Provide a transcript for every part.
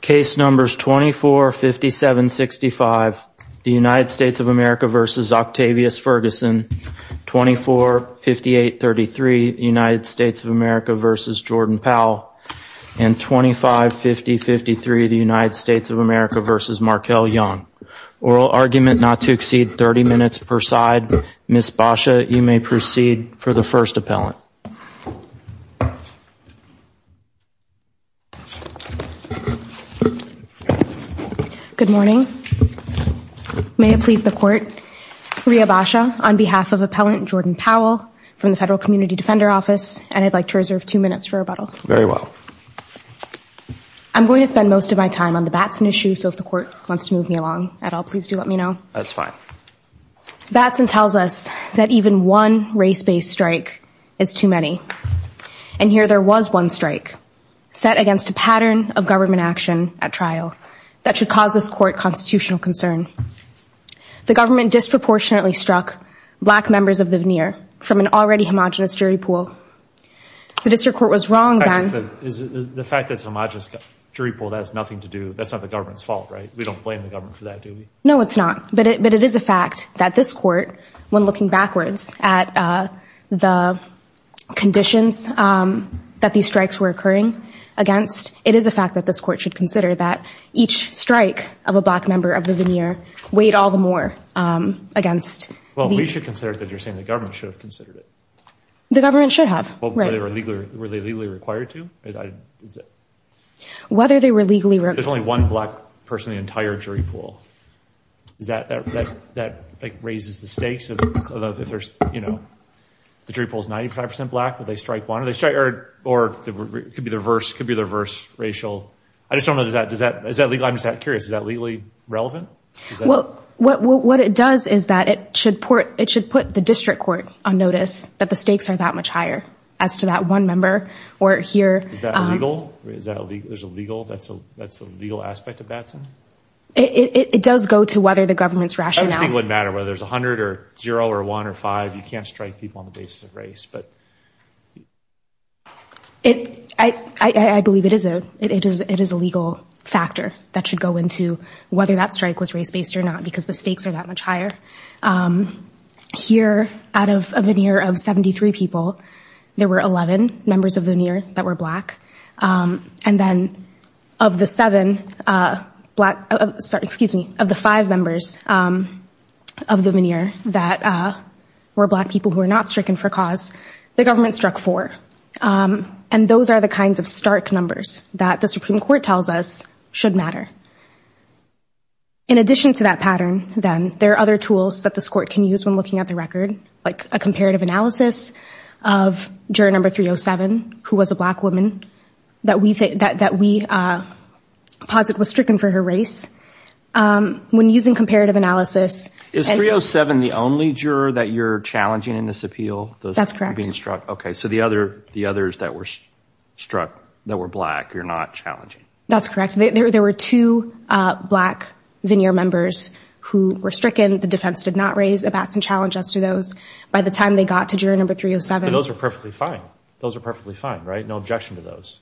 case numbers 24, 57, 65, the United States of America versus Octavius Ferguson, 24, 58, 33, United States of America versus Jordan Powell, and 25, 50, 53, the United States of America versus Markel Young. Oral argument not to exceed 30 minutes per side. Ms. Basha, you may proceed for the first appellant. Good morning. May it please the court. Rhea Basha on behalf of Appellant Jordan Powell from the Federal Community Defender Office, and I'd like to reserve two minutes for rebuttal. Very well. I'm going to spend most of my time on the Batson issue, so if the court wants to move me along at all, please do let me know. That's fine. Batson tells us that even one race-based strike is too many. And here there was one strike set against a pattern of government action at trial that should cause this court constitutional concern. The government disproportionately struck black members of the veneer from an already homogenous jury pool. The district court was wrong then. The fact that it's a homogenous jury pool, that has nothing to do, that's not the government's fault, right? We don't blame the government for that, do we? No, it's not. But it is a fact that this court, when looking backwards at the conditions that these strikes were occurring against, it is a fact that this court should consider that each strike of a black member of the veneer weighed all the more against. Well, we should consider that you're saying the government should have considered it. The government should have. Were they legally required to? Whether they were legally required. There's only one black person in the entire jury pool. That raises the stakes of if the jury pool is 95% black, will they strike one? Or it could be the reverse racial. I just don't know. Is that legal? I'm just curious. Is that legally relevant? What it does is that it should put the district court on notice that the stakes are that much higher as to that one member. Is that illegal? Is that illegal? That's a legal aspect of that? It does go to whether the government's rationale. It wouldn't matter whether there's 100 or 0 or 1 or 5. You can't strike people on the basis of race. I believe it is a legal factor that should go into whether that strike was race-based or not because the stakes are that much higher. Here, out of a veneer of 73 people, there were 11 members of the veneer that were black. And then of the five members of the veneer that were black people who were not stricken for cause, the government struck four. And those are the kinds of stark numbers that the Supreme Court tells us should matter. In addition to that pattern, then, there are other tools that this court can use when looking at the record, like a comparative analysis of juror number 307, who was a black woman that we posit was stricken for her race. When using comparative analysis... Is 307 the only juror that you're challenging in this appeal? That's correct. Okay, so the others that were struck that were black, you're not challenging? That's correct. There were two black veneer members who were stricken. The defense did not raise abats and challenges to those. By the time they got to juror number 307... But those were perfectly fine. Those were perfectly fine, right? No objection to those.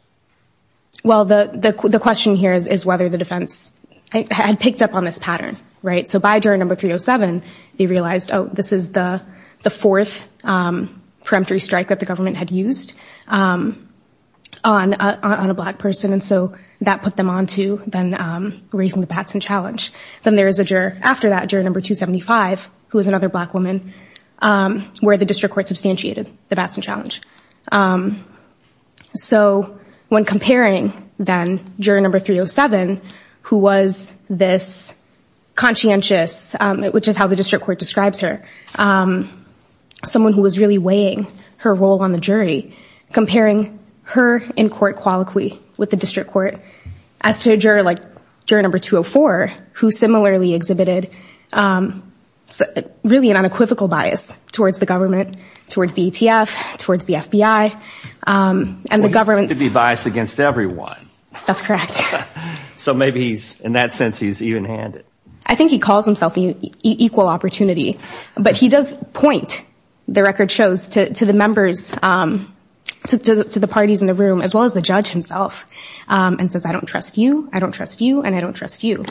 Well, the question here is whether the defense had picked up on this pattern, right? So by juror number 307, they realized, oh, this is the fourth peremptory strike that the government had used on a black person. And so that put them on to then raising the abats and challenge. Then there is a juror after that, juror number 275, who is another black woman, where the district court substantiated the abats and challenge. So when comparing, then, juror number 307, who was this conscientious, which is how the district court describes her, someone who was really weighing her role on the jury, comparing her in-court colloquy with the district court, as to a juror like juror number 204, who similarly exhibited really an unequivocal bias towards the government, towards the ETF, towards the FBI. Well, he seems to be biased against everyone. That's correct. So maybe he's, in that sense, he's even-handed. I think he calls himself an equal opportunity, but he does point, the record shows, to the members, to the parties in the room, as well as the judge himself, and says, I don't trust you, I don't trust you, and I don't trust you.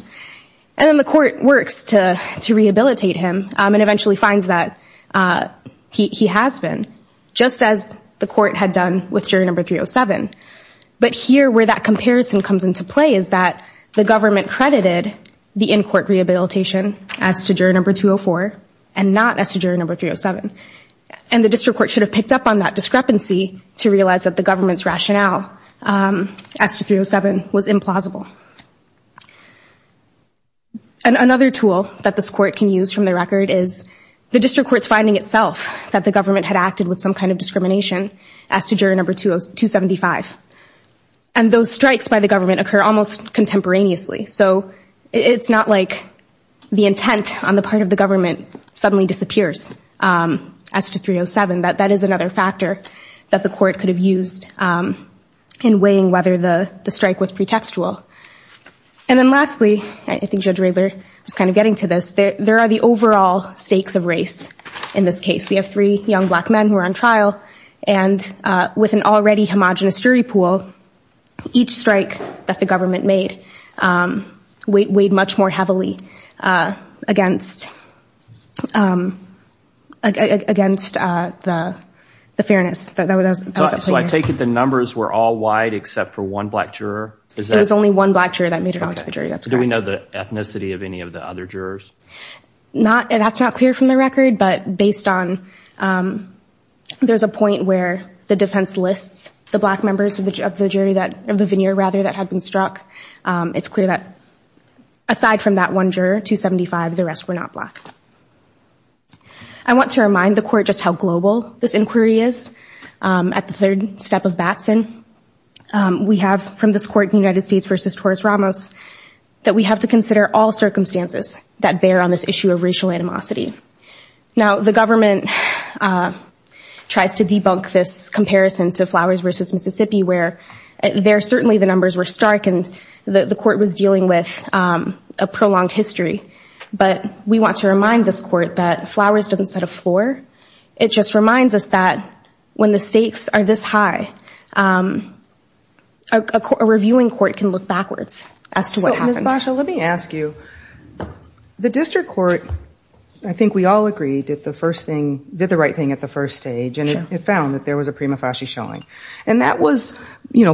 And then the court works to rehabilitate him and eventually finds that he has been, just as the court had done with juror number 307. But here, where that comparison comes into play is that the government credited the in-court rehabilitation as to juror number 204 and not as to juror number 307. And the district court should have picked up on that discrepancy to realize that the government's rationale as to 307 was implausible. And another tool that this court can use from the record is the district court's finding itself that the government had acted with some kind of discrimination as to juror number 275. And those strikes by the government occur almost contemporaneously. So it's not like the intent on the part of the government suddenly disappears as to 307. That is another factor that the court could have used in weighing whether the strike was pretextual. And then lastly, I think Judge Riegler was kind of getting to this, there are the overall stakes of race in this case. We have three young black men who are on trial, and with an already homogenous jury pool, each strike that the government made weighed much more heavily against the fairness. So I take it the numbers were all wide except for one black juror? It was only one black juror that made it onto the jury, that's correct. Do we know the ethnicity of any of the other jurors? That's not clear from the record, but based on, there's a point where the defense lists the black members of the jury, of the veneer rather, that had been struck. It's clear that aside from that one juror, 275, the rest were not black. I want to remind the court just how global this inquiry is. At the third step of Batson, we have from this court in the United States versus Torres Ramos, that we have to consider all circumstances that bear on this issue of racial animosity. Now, the government tries to debunk this comparison to Flowers versus Mississippi, where there certainly the numbers were stark, and the court was dealing with a prolonged history. But we want to remind this court that Flowers doesn't set a floor. It just reminds us that when the stakes are this high, a reviewing court can look backwards as to what happened. Ms. Basha, let me ask you. The district court, I think we all agree, did the right thing at the first stage, and it found that there was a prima facie showing. And that was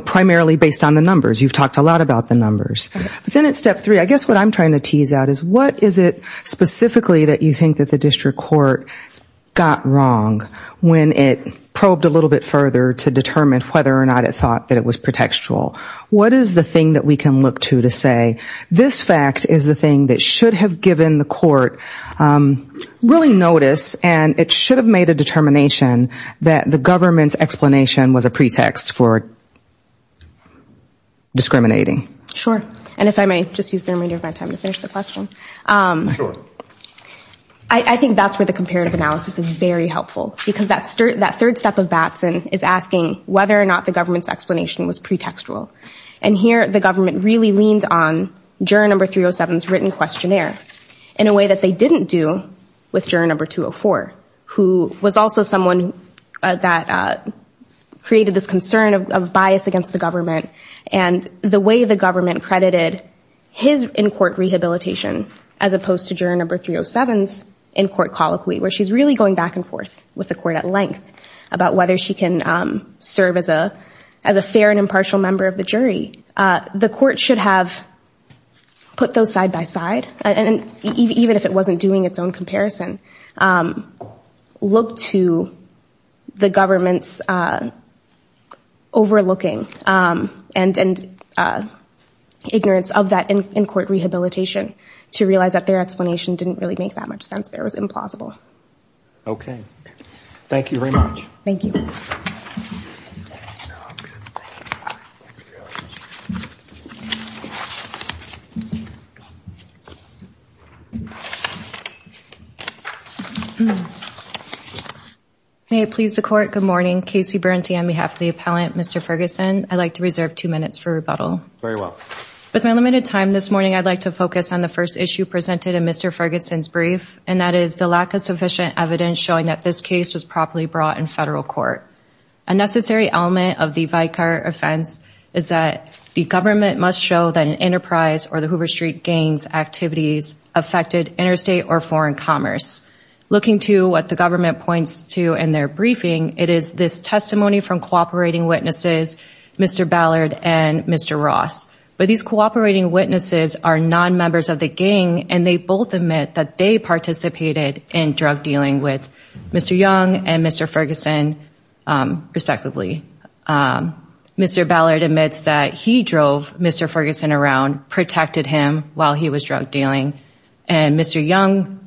primarily based on the numbers. You've talked a lot about the numbers. But then at step three, I guess what I'm trying to tease out is what is it specifically that you think that the district court got wrong when it probed a little bit further to determine whether or not it thought that it was pretextual? What is the thing that we can look to to say this fact is the thing that should have given the court really notice and it should have made a determination that the government's explanation was a pretext for discriminating? Sure. And if I may just use the remainder of my time to finish the question. Sure. I think that's where the comparative analysis is very helpful, because that third step of Batson is asking whether or not the government's explanation was pretextual. And here the government really leaned on juror number 307's written questionnaire in a way that they didn't do with juror number 204, who was also someone that created this concern of bias against the government. And the way the government credited his in-court rehabilitation as opposed to juror number 307's in-court colloquy, where she's really going back and forth with the court at length about whether she can serve as a fair and impartial member of the jury, the court should have put those side by side, even if it wasn't doing its own comparison, looked to the government's overlooking and ignorance of that in-court rehabilitation to realize that their explanation didn't really make that much sense. It was implausible. Okay. Thank you very much. Thank you. May it please the court, good morning. Casey Berente on behalf of the appellant. Mr. Ferguson, I'd like to reserve two minutes for rebuttal. Very well. With my limited time this morning, I'd like to focus on the first issue presented in Mr. Ferguson's brief, and that is the lack of sufficient evidence showing that this case was properly brought in federal court. A necessary element of the Vicar offense is that the government must show that an enterprise or the Hoover Street gang's activities affected interstate or foreign commerce. Looking to what the government points to in their briefing, it is this testimony from cooperating witnesses, Mr. Ballard and Mr. Ross. But these cooperating witnesses are non-members of the gang, and they both admit that they participated in drug dealing with Mr. Young and Mr. Ferguson, respectively. Mr. Ballard admits that he drove Mr. Ferguson around, protected him while he was drug dealing. And Mr. Young,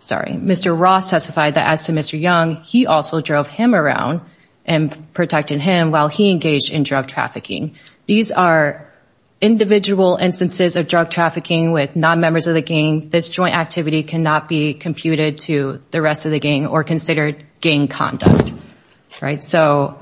sorry, Mr. Ross testified that as to Mr. Young, he also drove him around and protected him while he engaged in drug trafficking. These are individual instances of drug trafficking with non-members of the gang. This joint activity cannot be computed to the rest of the gang or considered gang conduct. So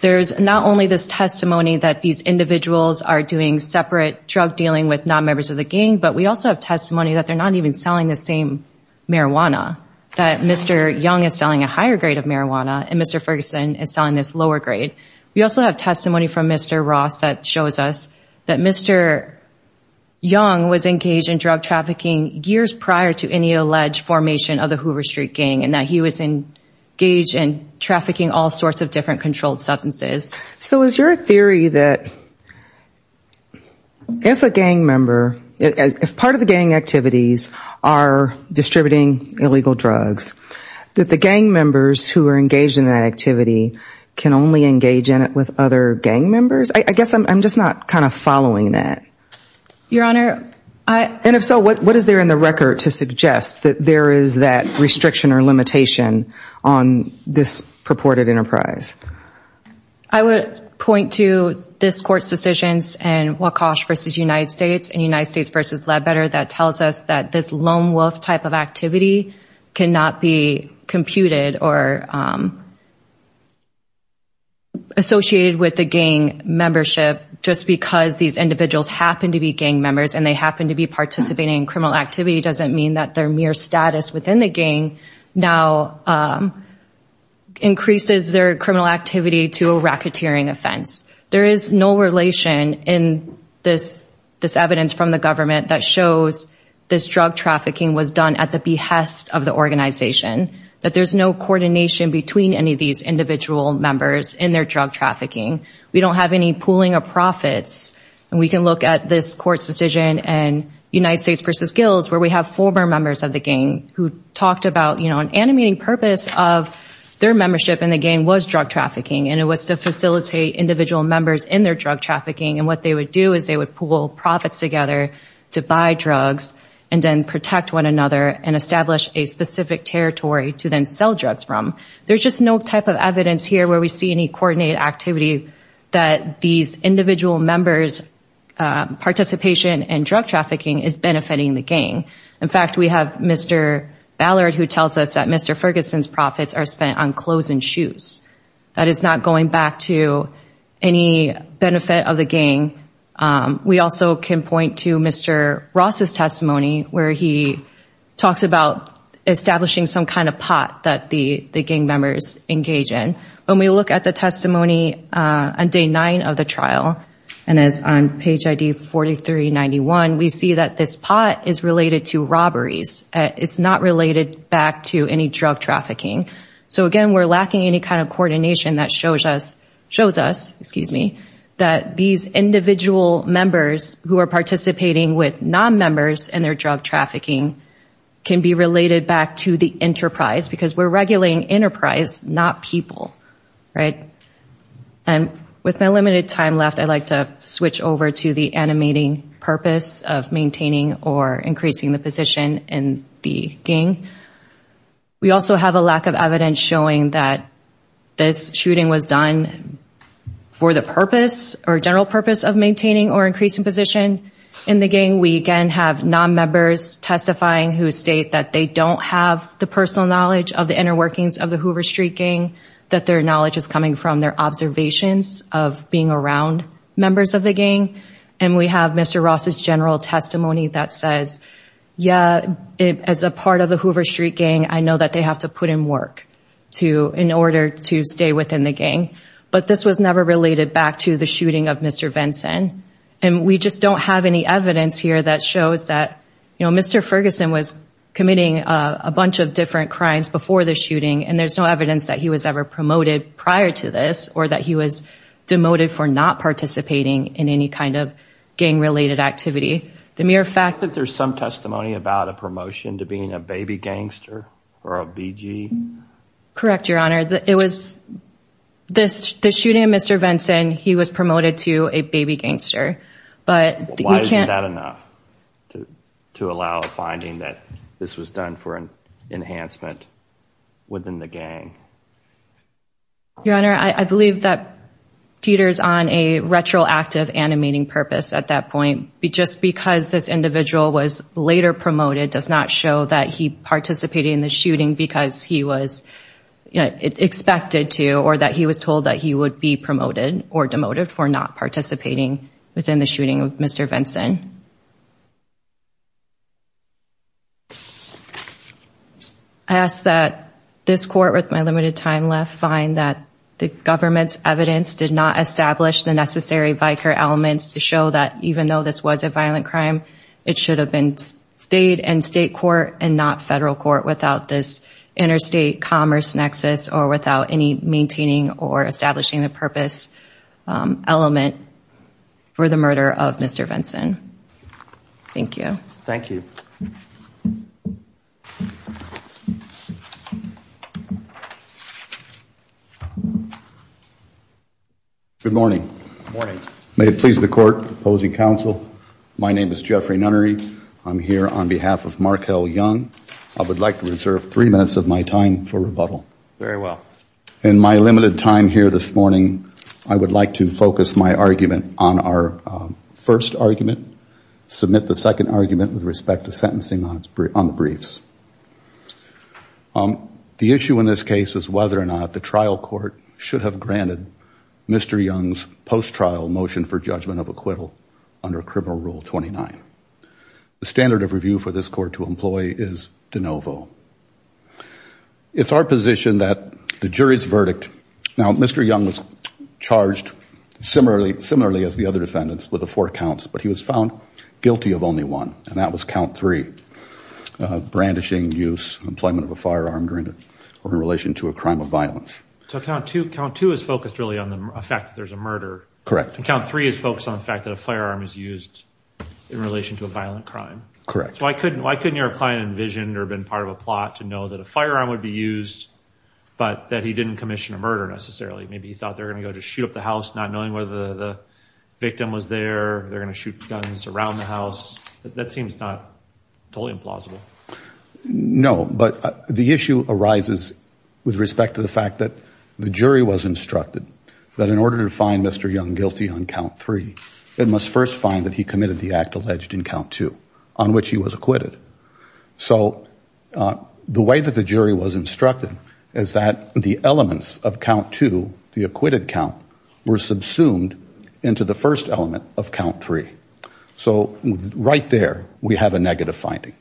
there's not only this testimony that these individuals are doing separate drug dealing with non-members of the gang, but we also have testimony that they're not even selling the same marijuana, that Mr. Young is selling a higher grade of marijuana and Mr. Ferguson is selling this lower grade. We also have testimony from Mr. Ross that shows us that Mr. Young was engaged in drug trafficking years prior to any alleged formation of the Hoover Street Gang and that he was engaged in trafficking all sorts of different controlled substances. So is your theory that if a gang member, if part of the gang activities are distributing illegal drugs, that the gang members who are engaged in that activity can only engage in it with other gang members? I guess I'm just not kind of following that. Your Honor, I... And if so, what is there in the record to suggest that there is that restriction or limitation on this purported enterprise? I would point to this Court's decisions in Wachosh v. United States and United States v. Ledbetter that tells us that this lone wolf type of activity cannot be computed or associated with the gang membership just because these individuals happen to be gang members and they happen to be participating in criminal activity doesn't mean that their mere status within the gang now increases their criminal activity to a racketeering offense. There is no relation in this evidence from the government that shows this drug trafficking was done at the behest of the organization, that there's no coordination between any of these individual members in their drug trafficking. We don't have any pooling of profits. And we can look at this Court's decision in United States v. Gills where we have former members of the gang who talked about, you know, an animating purpose of their membership in the gang was drug trafficking and it was to facilitate individual members in their drug trafficking and what they would do is they would pool profits together to buy drugs and then protect one another and establish a specific territory to then sell drugs from. There's just no type of evidence here where we see any coordinated activity that these individual members' participation in drug trafficking is benefiting the gang. In fact, we have Mr. Ballard who tells us that Mr. Ferguson's profits are spent on clothes and shoes. That is not going back to any benefit of the gang. We also can point to Mr. Ross' testimony where he talks about establishing some kind of pot that the gang members engage in. When we look at the testimony on day nine of the trial and is on page ID 4391, we see that this pot is related to robberies. It's not related back to any drug trafficking. So again, we're lacking any kind of coordination that shows us that these individual members who are participating with non-members in their drug trafficking can be related back to the enterprise because we're regulating enterprise, not people, right? And with my limited time left, I'd like to switch over to the animating purpose of maintaining or increasing the position in the gang. We also have a lack of evidence showing that this shooting was done for the purpose or general purpose of maintaining or increasing position in the gang. We, again, have non-members testifying who state that they don't have the personal knowledge of the inner workings of the Hoover Street gang, that their knowledge is coming from their observations of being around members of the gang. And we have Mr. Ross' general testimony that says, yeah, as a part of the Hoover Street gang, I know that they have to put in work in order to stay within the gang. But this was never related back to the shooting of Mr. Vinson. And we just don't have any evidence here that shows that, you know, Mr. Ferguson was committing a bunch of different crimes before the shooting, and there's no evidence that he was ever promoted prior to this or that he was demoted for not participating in any kind of gang-related activity. The mere fact that there's some testimony about a promotion to being a baby gangster or a BG. Correct, Your Honor. It was the shooting of Mr. Vinson, he was promoted to a baby gangster. But why isn't that enough to allow a finding that this was done for an enhancement within the gang? Your Honor, I believe that Teeter's on a retroactive animating purpose at that point. Just because this individual was later promoted does not show that he participated in the shooting because he was expected to or that he was told that he would be promoted or demoted for not participating within the shooting of Mr. Vinson. I ask that this court, with my limited time left, find that the government's evidence did not establish the necessary vicar elements to show that even though this was a violent crime, it should have been state and state court and not federal court without this interstate commerce nexus or without any maintaining or establishing the purpose element for the murder of Mr. Vinson. Thank you. Thank you. Good morning. Good morning. May it please the court opposing counsel, my name is Jeffrey Nunnery. I'm here on behalf of Markel Young. I would like to reserve three minutes of my time for rebuttal. Very well. In my limited time here this morning, I would like to focus my argument on our first argument, submit the second argument with respect to sentencing on the briefs. The issue in this case is whether or not the trial court should have granted Mr. Young's post-trial motion for judgment of acquittal under Criminal Rule 29. The standard of review for this court to employ is de novo. It's our position that the jury's verdict, now Mr. Young was charged similarly as the other defendants with the four counts, but he was found guilty of only one, and that was count three, brandishing, use, employment of a firearm during or in relation to a crime of violence. So count two is focused really on the fact that there's a murder. Correct. And count three is focused on the fact that a firearm is used in relation to a violent crime. Correct. So why couldn't your client envision or have been part of a plot to know that a firearm would be used, but that he didn't commission a murder necessarily? Maybe he thought they were going to go just shoot up the house not knowing whether the victim was there, they're going to shoot guns around the house. That seems not totally implausible. No, but the issue arises with respect to the fact that the jury was instructed that in order to find Mr. Young guilty on count three, it must first find that he committed the act alleged in count two on which he was acquitted. So the way that the jury was instructed is that the elements of count two, the acquitted count, were subsumed into the first element of count three. So right there we have a negative finding.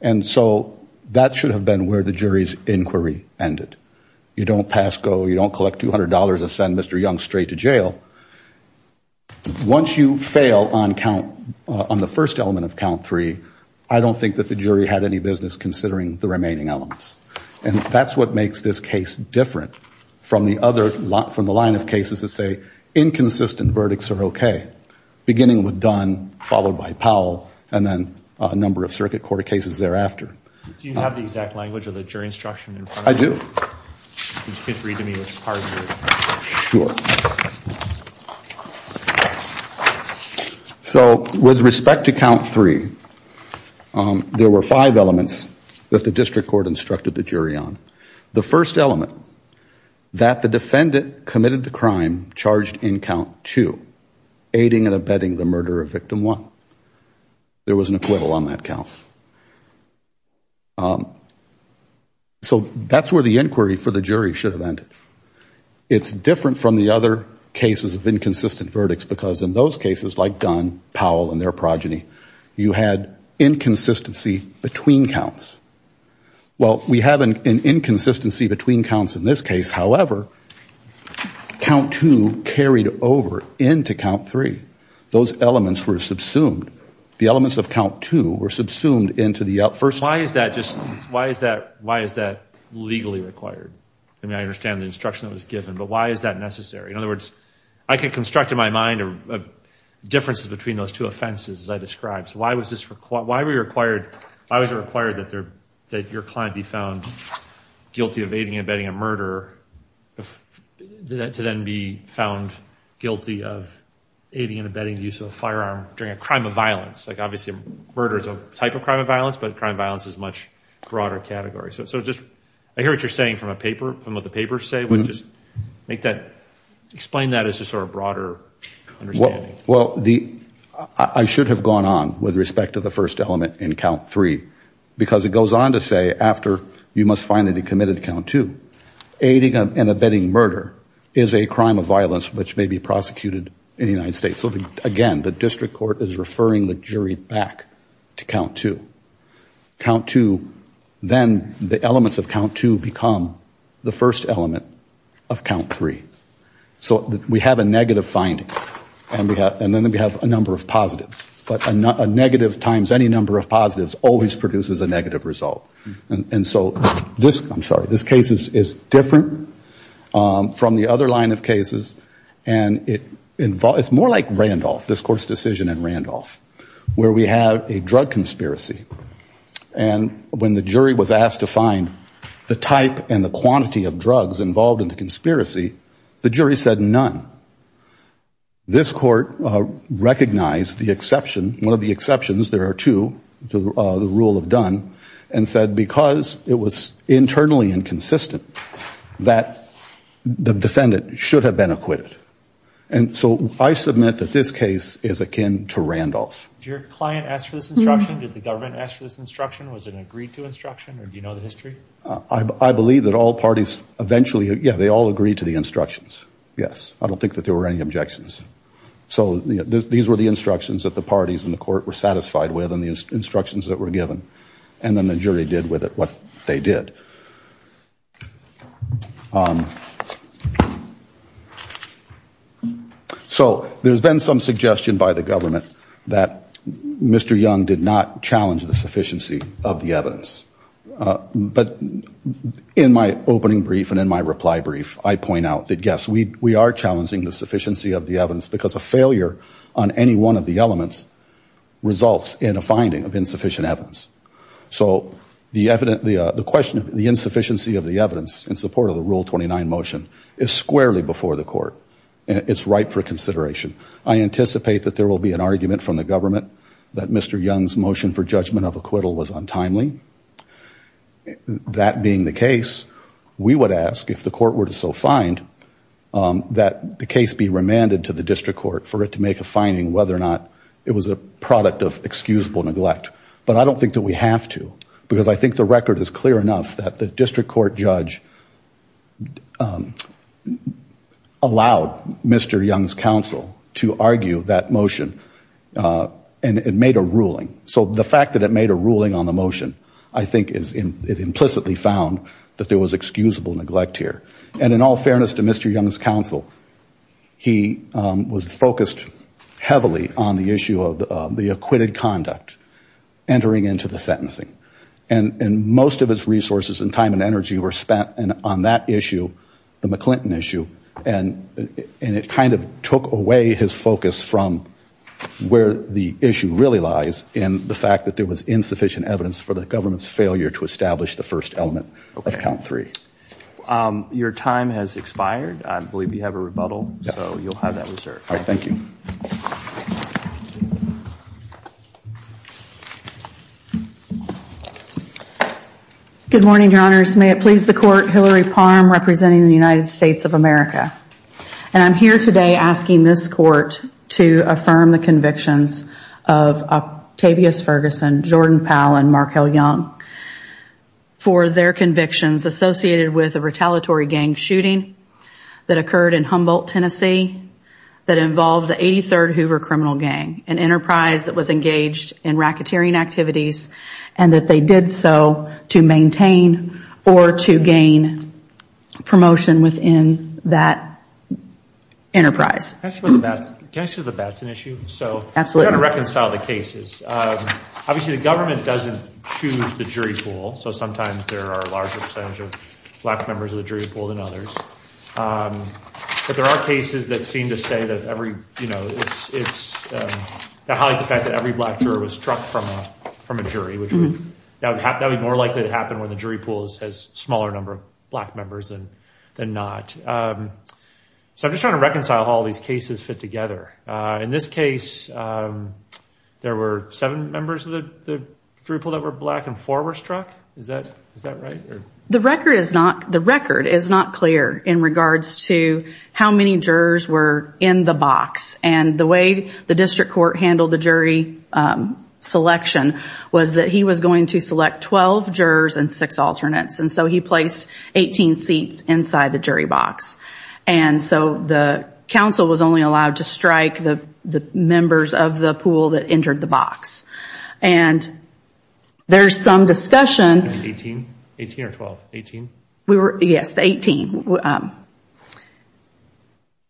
And so that should have been where the jury's inquiry ended. You don't pass go, you don't collect $200 and send Mr. Young straight to jail. Once you fail on the first element of count three, I don't think that the jury had any business considering the remaining elements. And that's what makes this case different from the line of cases that say inconsistent verdicts are okay, beginning with Dunn, followed by Powell, and then a number of circuit court cases thereafter. Do you have the exact language of the jury instruction in front of you? I do. Could you read to me which part of it? Sure. So with respect to count three, there were five elements that the district court instructed the jury on. The first element, that the defendant committed the crime charged in count two, aiding and abetting the murder of victim one. There was an equivalent on that count. So that's where the inquiry for the jury should have ended. It's different from the other cases of inconsistent verdicts, because in those cases, like Dunn, Powell, and their progeny, you had inconsistency between counts. Well, we have an inconsistency between counts in this case. However, count two carried over into count three. Those elements were subsumed. The elements of count two were subsumed into the first one. Why is that legally required? I mean, I understand the instruction that was given, but why is that necessary? In other words, I can construct in my mind differences between those two offenses, as I described. Why was it required that your client be found guilty of aiding and abetting a murder, to then be found guilty of aiding and abetting the use of a firearm during a crime of violence? Like, obviously, murder is a type of crime of violence, but crime of violence is a much broader category. So I hear what you're saying from what the papers say. Explain that as a sort of broader understanding. Well, I should have gone on with respect to the first element in count three, because it goes on to say, after you must finally be committed to count two, aiding and abetting murder is a crime of violence which may be prosecuted in the United States. So, again, the district court is referring the jury back to count two. Count two, then the elements of count two become the first element of count three. So we have a negative finding, and then we have a number of positives. But a negative times any number of positives always produces a negative result. And so this case is different from the other line of cases. And it's more like Randolph, this court's decision in Randolph, where we have a drug conspiracy. And when the jury was asked to find the type and the quantity of drugs involved in the conspiracy, the jury said none. This court recognized the exception, one of the exceptions, there are two to the rule of done, and said because it was internally inconsistent that the defendant should have been acquitted. And so I submit that this case is akin to Randolph. Did your client ask for this instruction? Did the government ask for this instruction? Was it an agreed to instruction, or do you know the history? I believe that all parties eventually, yeah, they all agreed to the instructions. Yes. I don't think that there were any objections. So these were the instructions that the parties in the court were satisfied with and the instructions that were given. And then the jury did with it what they did. So there's been some suggestion by the government that Mr. Young did not challenge the sufficiency of the evidence. But in my opening brief and in my reply brief, I point out that, yes, we are challenging the sufficiency of the evidence because a failure on any one of the elements results in a finding of insufficient evidence. So the question of the insufficiency of the evidence in support of the Rule 29 motion is squarely before the court. It's right for consideration. I anticipate that there will be an argument from the government that Mr. Young's motion for judgment of acquittal was untimely. That being the case, we would ask if the court were to so find that the case be remanded to the district court for it to make a finding whether or not it was a product of excusable neglect. But I don't think that we have to because I think the record is clear enough that the district court judge allowed Mr. Young's counsel to argue that motion and it made a ruling. So the fact that it made a ruling on the motion, I think it implicitly found that there was excusable neglect here. And in all fairness to Mr. Young's counsel, he was focused heavily on the issue of the acquitted conduct entering into the sentencing. And most of his resources and time and energy were spent on that issue, the McClinton issue, and it kind of took away his focus from where the issue really lies in the fact that there was insufficient evidence for the government's failure to establish the first element of count three. Your time has expired. I believe you have a rebuttal, so you'll have that reserved. Thank you. Good morning, Your Honors. May it please the court, Hillary Palm representing the United States of America. And I'm here today asking this court to affirm the convictions of Octavius Ferguson, Jordan Powell, and Markel Young for their convictions associated with a retaliatory gang shooting that occurred in Humboldt, Tennessee, that involved the 83rd Hoover Criminal Gang, an enterprise that was engaged in racketeering activities, and that they did so to maintain or to gain promotion within that enterprise. Can I say that that's an issue? Absolutely. We've got to reconcile the cases. Obviously, the government doesn't choose the jury pool, so sometimes there are a larger percentage of black members of the jury pool than others. But there are cases that seem to say that every, you know, that highlight the fact that every black juror was struck from a jury, which that would be more likely to happen when the jury pool has a smaller number of black members than not. So I'm just trying to reconcile how all these cases fit together. In this case, there were seven members of the jury pool that were black and four were struck. Is that right? The record is not clear in regards to how many jurors were in the box. And the way the district court handled the jury selection was that he was going to select 12 jurors and six alternates. And so he placed 18 seats inside the jury box. And so the council was only allowed to strike the members of the pool that entered the box. And there's some discussion. 18? 18 or 12? 18? Yes, 18.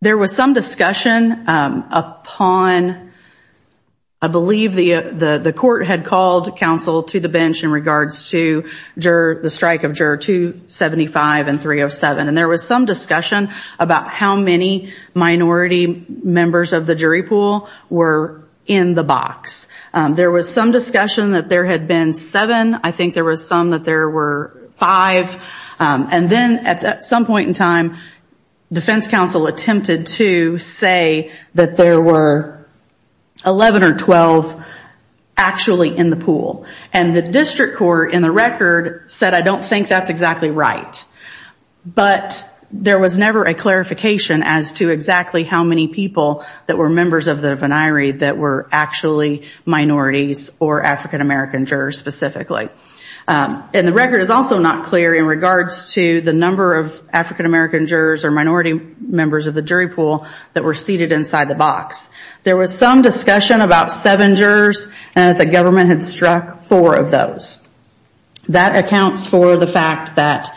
There was some discussion upon, I believe the court had called counsel to the bench in regards to the strike of juror 275 and 307. And there was some discussion about how many minority members of the jury pool were in the box. There was some discussion that there had been seven. I think there was some that there were five. And then at some point in time, defense counsel attempted to say that there were 11 or 12 actually in the pool. And the district court in the record said, I don't think that's exactly right. But there was never a clarification as to exactly how many people that were members of the venire that were actually minorities or African American jurors specifically. And the record is also not clear in regards to the number of African American jurors or minority members of the jury pool that were seated inside the box. There was some discussion about seven jurors and that the government had struck four of those. That accounts for the fact that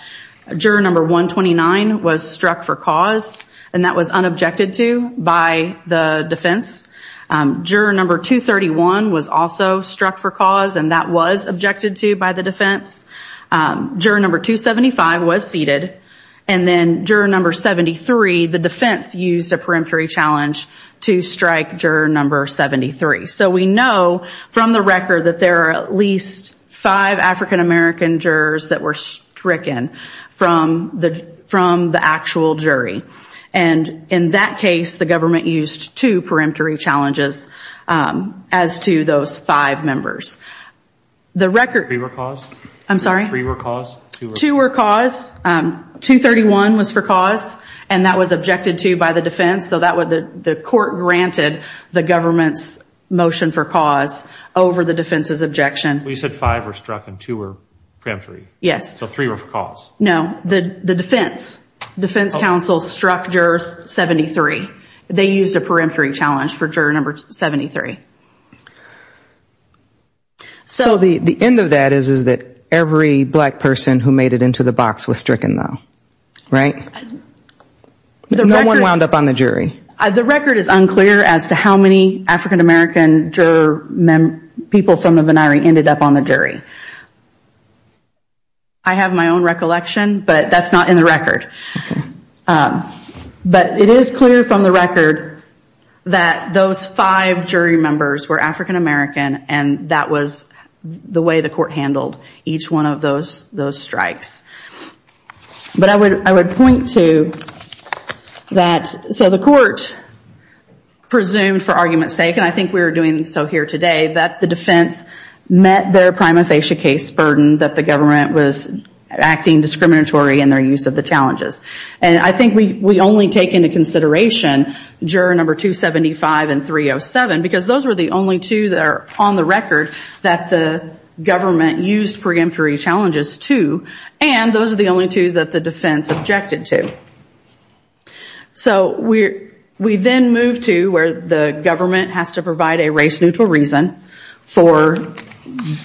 juror number 129 was struck for cause and that was unobjected to by the defense. Juror number 231 was also struck for cause and that was objected to by the defense. Juror number 275 was seated. And then juror number 73, the defense used a peremptory challenge to strike juror number 73. So we know from the record that there are at least five African American jurors that were stricken from the actual jury. And in that case, the government used two peremptory challenges as to those five members. The record... I'm sorry? Three were cause? Two were cause. 231 was for cause and that was objected to by the defense. So the court granted the government's motion for cause over the defense's objection. You said five were struck and two were peremptory? Yes. So three were for cause? No, the defense. Defense counsel struck juror 73. They used a peremptory challenge for juror number 73. So the end of that is that every black person who made it into the box was stricken though, right? No one wound up on the jury? The record is unclear as to how many African American juror people from the Vennari ended up on the jury. I have my own recollection, but that's not in the record. But it is clear from the record that those five jury members were African American and that was the way the court handled each one of those strikes. But I would point to that. So the court presumed for argument's sake, and I think we're doing so here today, that the defense met their prima facie case burden that the government was acting discriminatory in their use of the challenges. And I think we only take into consideration juror number 275 and 307 because those were the only two that are on the record that the government used preemptory challenges to and those are the only two that the defense objected to. So we then move to where the government has to provide a race neutral reason for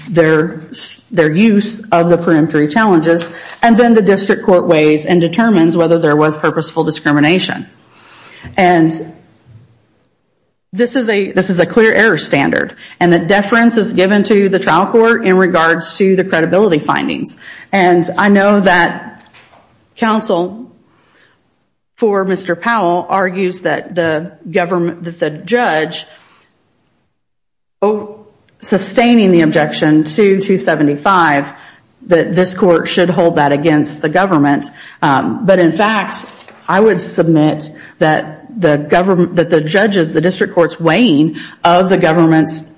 their use of the preemptory challenges and then the district court weighs and determines whether there was purposeful discrimination. And this is a clear error standard and the deference is given to the trial court in regards to the credibility findings. And I know that counsel for Mr. Powell argues that the judge, sustaining the objection to 275, that this court should hold that against the government. But in fact, I would submit that the judges, the district court's weighing of the government's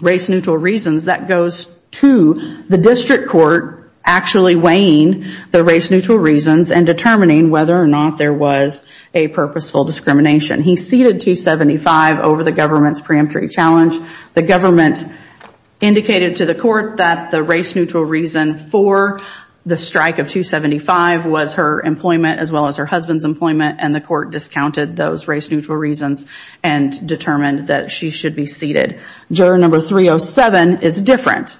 race neutral reasons, that goes to the district court actually weighing the race neutral reasons and determining whether or not there was a purposeful discrimination. He ceded 275 over the government's preemptory challenge. The government indicated to the court that the race neutral reason for the strike of 275 was her employment as well as her husband's employment and the court discounted those race neutral reasons and determined that she should be ceded. Juror number 307 is different.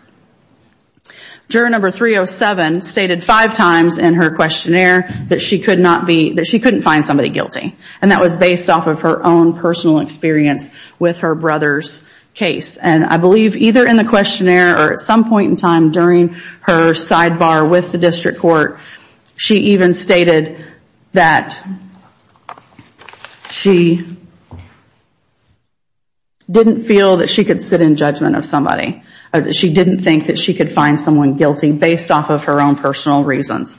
Juror number 307 stated five times in her questionnaire that she couldn't find somebody guilty and that was based off of her own personal experience with her brother's case. And I believe either in the questionnaire or at some point in time during her sidebar with the district court, she even stated that she didn't feel that she could sit in judgment of somebody. She didn't think that she could find someone guilty based off of her own personal reasons.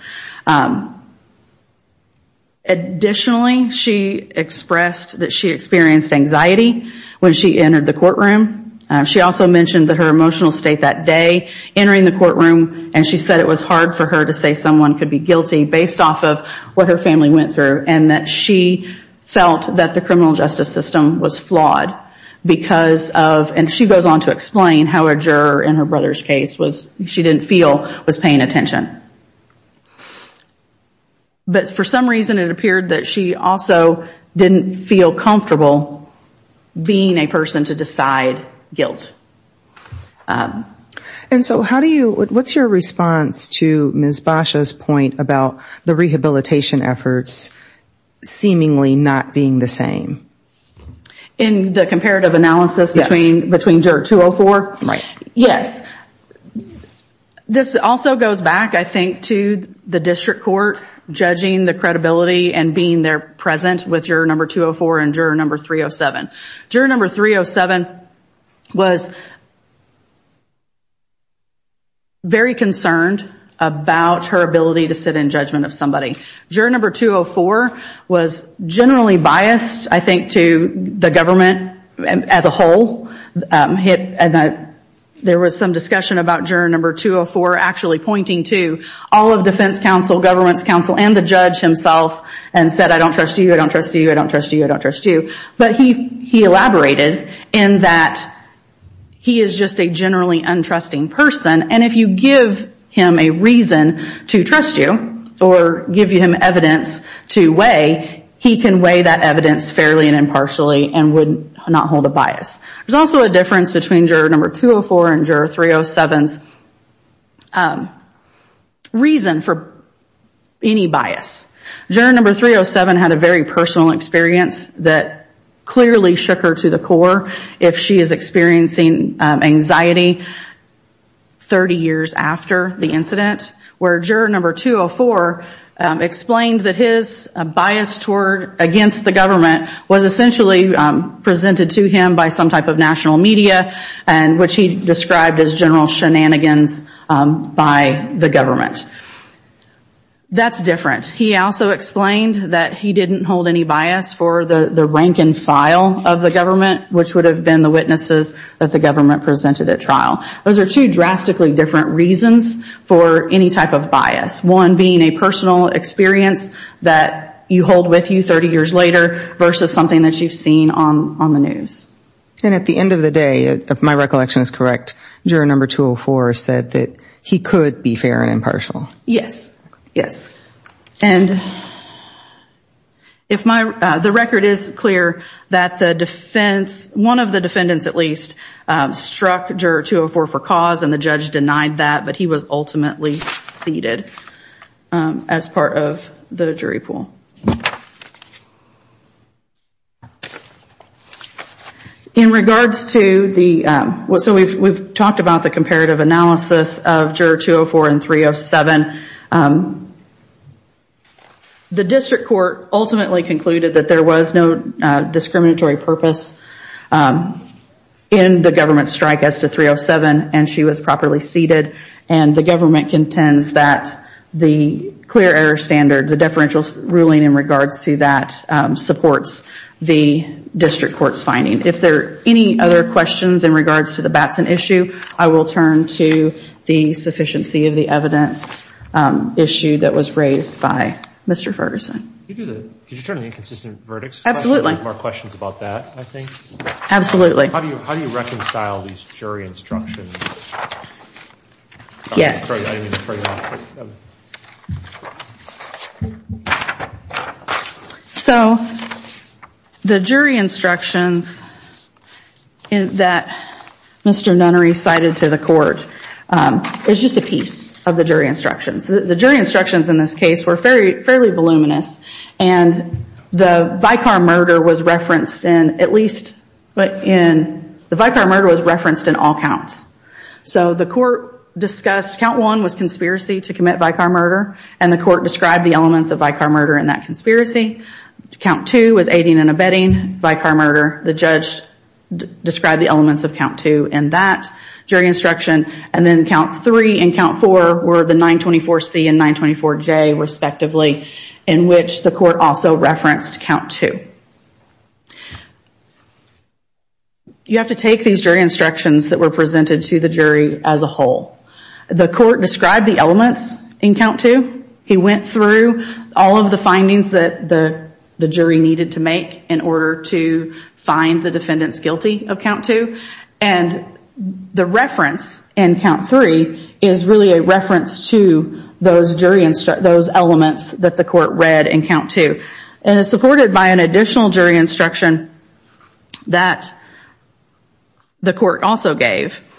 Additionally, she expressed that she experienced anxiety when she entered the courtroom. She also mentioned that her emotional state that day entering the courtroom and she said it was hard for her to say someone could be guilty based off of what her family went through and that she felt that the criminal justice system was flawed because of, and she goes on to explain how a juror in her brother's case was, she didn't feel was paying attention. But for some reason it appeared that she also didn't feel comfortable being a person to decide guilt. And so how do you, what's your response to Ms. Basha's point about the rehabilitation efforts seemingly not being the same? In the comparative analysis between juror 204? Right. Yes. This also goes back I think to the district court judging the credibility and being there present with juror number 204 and juror number 307. Juror number 307 was very concerned about her ability to sit in judgment of somebody. Juror number 204 was generally biased I think to the government as a whole and there was some discussion about juror number 204 actually pointing to all of defense counsel, government's counsel and the judge himself and said I don't trust you, I don't trust you, I don't trust you, I don't trust you. But he elaborated in that he is just a generally untrusting person and if you give him a reason to trust you or give him evidence to weigh, he can weigh that evidence fairly and impartially and would not hold a bias. There's also a difference between juror number 204 and juror 307's reason for any bias. Juror number 307 had a very personal experience that clearly shook her to the core if she is experiencing anxiety 30 years after the incident where juror number 204 explained that his bias against the government was essentially presented to him by some type of national media which he described as general shenanigans by the government. That's different. He also explained that he didn't hold any bias for the rank and file of the government which would have been the witnesses that the government presented at trial. Those are two drastically different reasons for any type of bias. One being a personal experience that you hold with you 30 years later versus something that you've seen on the news. And at the end of the day, if my recollection is correct, juror number 204 said that he could be fair and impartial. Yes, yes. And the record is clear that the defense, one of the defendants at least, struck juror 204 for cause and the judge denied that, but he was ultimately seated as part of the jury pool. In regards to the, so we've talked about the comparative analysis of juror 204 and 307. The district court ultimately concluded that there was no discriminatory purpose in the government's strike as to 307 and she was properly seated and the government contends that the clear error standard, the deferential ruling in regards to that supports the district court's finding. If there are any other questions in regards to the Batson issue, I will turn to the sufficiency of the evidence issue that was raised by Mr. Ferguson. Could you turn to the inconsistent verdicts? Absolutely. We have more questions about that, I think. Absolutely. How do you reconcile these jury instructions? Yes. Yes. So the jury instructions that Mr. Nunnery cited to the court, it was just a piece of the jury instructions. The jury instructions in this case were fairly voluminous and the Vicar murder was referenced in at least, the Vicar murder was referenced in all counts. So the court discussed count one was conspiracy to commit Vicar murder and the court described the elements of Vicar murder in that conspiracy. Count two was aiding and abetting Vicar murder. The judge described the elements of count two in that jury instruction and then count three and count four were the 924C and 924J respectively in which the court also referenced count two. You have to take these jury instructions that were presented to the jury as a whole. The court described the elements in count two. He went through all of the findings that the jury needed to make in order to find the defendants guilty of count two and the reference in count three is really a reference to those elements that the court read in count two. It is supported by an additional jury instruction that the court also gave.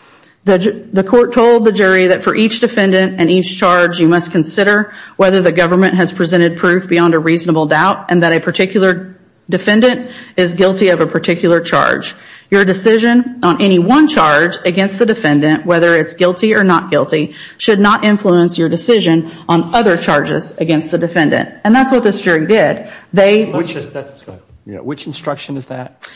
The court told the jury that for each defendant and each charge you must consider whether the government has presented proof beyond a reasonable doubt and that a particular defendant is guilty of a particular charge. Your decision on any one charge against the defendant, whether it's guilty or not guilty, should not influence your decision on other charges against the defendant. And that's what this jury did. Which instruction is that?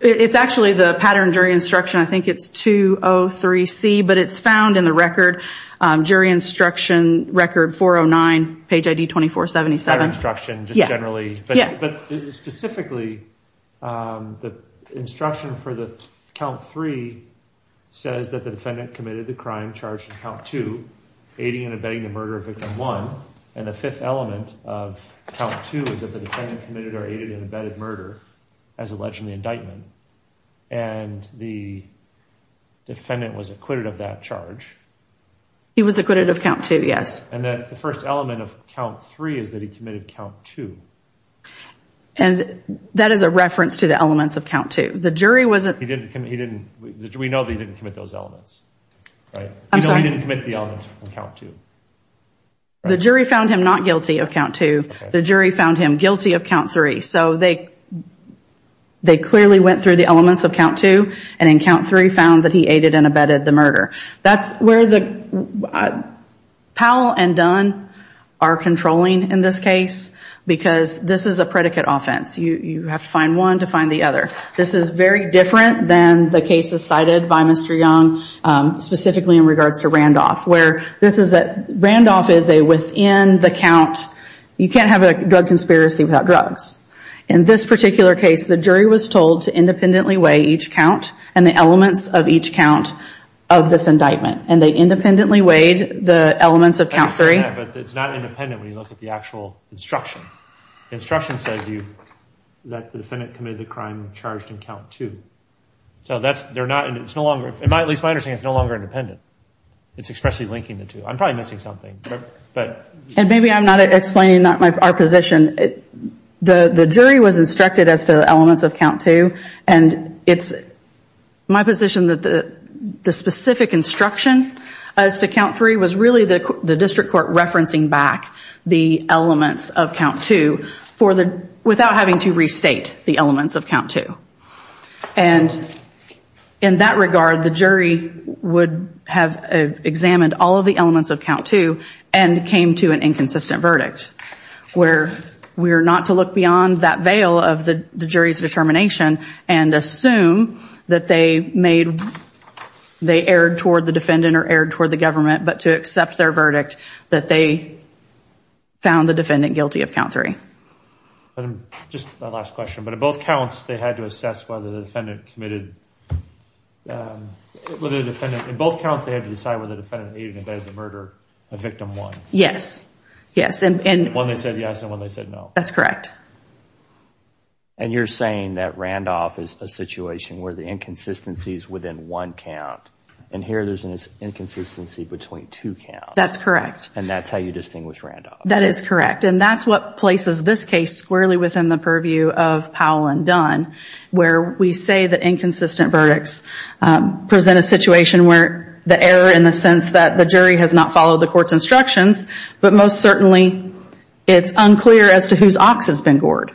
It's actually the pattern jury instruction. I think it's 203C, but it's found in the record, jury instruction record 409, page ID 2477. Pattern instruction, just generally. Specifically, the instruction for count three says that the defendant committed the crime charged in count two, aiding and abetting the murder of victim one and the fifth element of count two is that the defendant committed or aided and abetted murder as alleged in the indictment. And the defendant was acquitted of that charge. He was acquitted of count two, yes. And the first element of count three is that he committed count two. And that is a reference to the elements of count two. The jury wasn't – We know that he didn't commit those elements. I'm sorry. We know he didn't commit the elements from count two. The jury found him not guilty of count two. The jury found him guilty of count three. So they clearly went through the elements of count two, and in count three found that he aided and abetted the murder. That's where Powell and Dunn are controlling in this case because this is a predicate offense. You have to find one to find the other. This is very different than the cases cited by Mr. Young, specifically in regards to Randolph, where this is that Randolph is within the count. You can't have a drug conspiracy without drugs. In this particular case, the jury was told to independently weigh each count and the elements of each count of this indictment, and they independently weighed the elements of count three. I understand that, but it's not independent when you look at the actual instruction. The instruction says that the defendant committed the crime charged in count two. So that's – they're not – it's no longer – at least my understanding, it's no longer independent. It's expressly linking the two. I'm probably missing something. And maybe I'm not explaining our position. The jury was instructed as to the elements of count two, and it's my position that the specific instruction as to count three was really the district court referencing back the elements of count two without having to restate the elements of count two. And in that regard, the jury would have examined all of the elements of count two and came to an inconsistent verdict, where we are not to look beyond that veil of the jury's determination and assume that they made – they erred toward the defendant or erred toward the government, but to accept their verdict that they found the defendant guilty of count three. Just my last question. But in both counts, they had to assess whether the defendant committed – whether the defendant – in both counts, they had to decide whether the defendant aided or abetted the murder of victim one. Yes. Yes. One they said yes, and one they said no. That's correct. And you're saying that Randolph is a situation where the inconsistency is within one count, and here there's an inconsistency between two counts. That's correct. And that's how you distinguish Randolph. That is correct. And that's what places this case squarely within the purview of Powell and Dunn, where we say that inconsistent verdicts present a situation where the error in the sense that the jury has not followed the court's instructions, but most certainly it's unclear as to whose ox has been gored.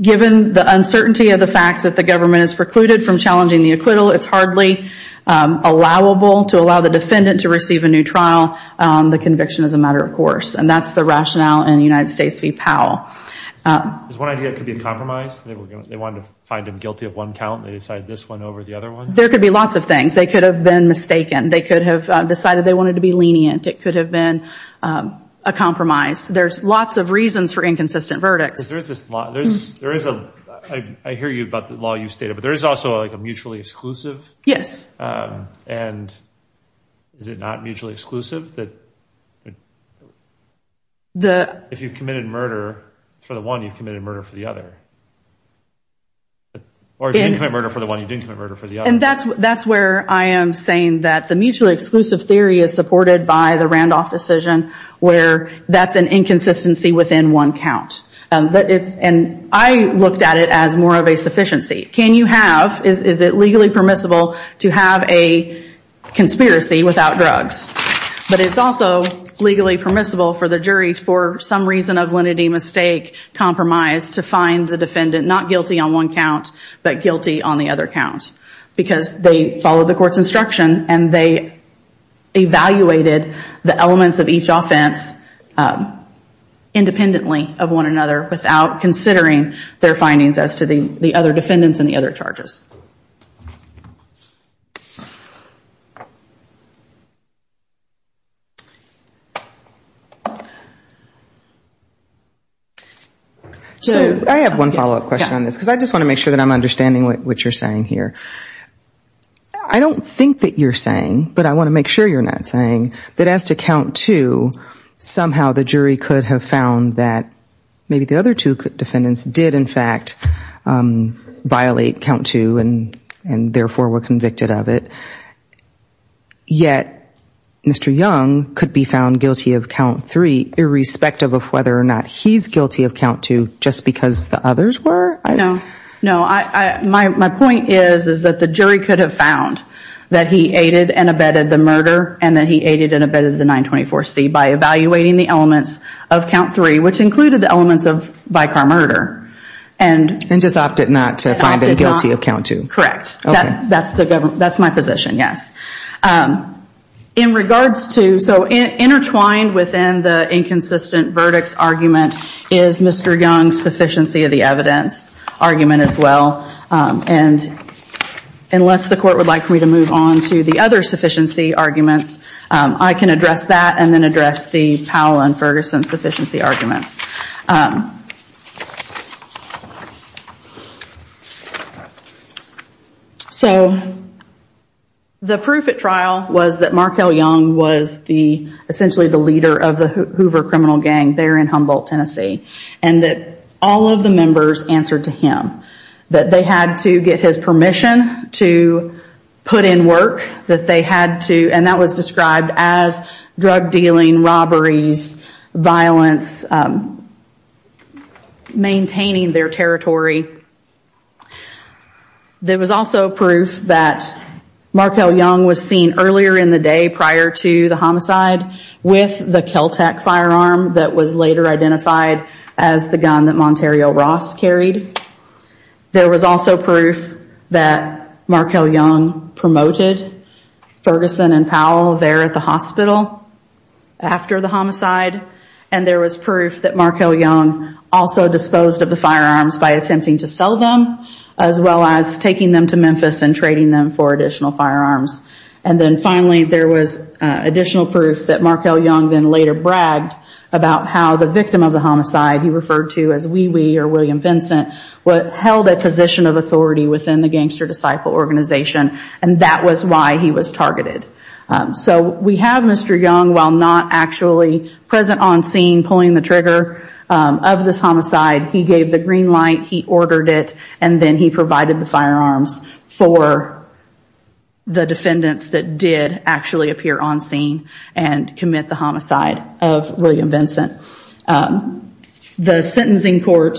Given the uncertainty of the fact that the government has precluded from challenging the acquittal, it's hardly allowable to allow the defendant to receive a new trial. The conviction is a matter of course. And that's the rationale in United States v. Powell. Is one idea it could be a compromise? They wanted to find him guilty of one count, and they decided this one over the other one? There could be lots of things. They could have been mistaken. They could have decided they wanted to be lenient. It could have been a compromise. There's lots of reasons for inconsistent verdicts. I hear you about the law you stated, but there is also a mutually exclusive? And is it not mutually exclusive? If you've committed murder for the one, you've committed murder for the other. Or if you didn't commit murder for the one, you didn't commit murder for the other. And that's where I am saying that the mutually exclusive theory is supported by the Randolph decision, where that's an inconsistency within one count. And I looked at it as more of a sufficiency. Can you have, is it legally permissible to have a conspiracy without drugs? But it's also legally permissible for the jury for some reason of lenity, mistake, compromise, to find the defendant not guilty on one count, but guilty on the other count. Because they followed the court's instruction and they evaluated the elements of each offense independently of one another without considering their findings as to the other defendants and the other charges. So I have one follow-up question on this, because I just want to make sure that I'm understanding what you're saying here. I don't think that you're saying, but I want to make sure you're not saying, that as to count two, somehow the jury could have found that maybe the other two defendants did in fact violate count two and therefore were convicted of it, yet Mr. Young could be found guilty of count three irrespective of whether or not he's guilty of count two just because the others were? No, my point is that the jury could have found that he aided and abetted the murder and that he aided and abetted the 924C by evaluating the elements of count three, which included the elements of by-car murder. And just opted not to find him guilty of count two? Correct. That's my position, yes. So intertwined within the inconsistent verdicts argument is Mr. Young's sufficiency of the evidence argument as well. And unless the court would like for me to move on to the other sufficiency arguments, I can address that and then address the Powell and Ferguson sufficiency arguments. So the proof at trial was that Markell Young was essentially the leader of the Hoover criminal gang there in Humboldt, Tennessee, and that all of the members answered to him, that they had to get his permission to put in work, that they had to, and that was described as drug dealing, robberies, violence, maintaining their territory. There was also proof that Markell Young was seen earlier in the day prior to the homicide with the Kel-Tac firearm that was later identified as the gun that Monterio Ross carried. There was also proof that Markell Young promoted Ferguson and Powell there at the hospital after the homicide. And there was proof that Markell Young also disposed of the firearms by attempting to sell them as well as taking them to Memphis and trading them for additional firearms. And then finally, there was additional proof that Markell Young then later bragged about how the victim of the homicide, he referred to as Wee Wee or William Vincent, held a position of authority within the Gangster Disciple organization, and that was why he was targeted. So we have Mr. Young, while not actually present on scene pulling the trigger of this homicide, he gave the green light, he ordered it, and then he provided the firearms for the defendants that did actually appear on scene and commit the homicide of William Vincent. The sentencing court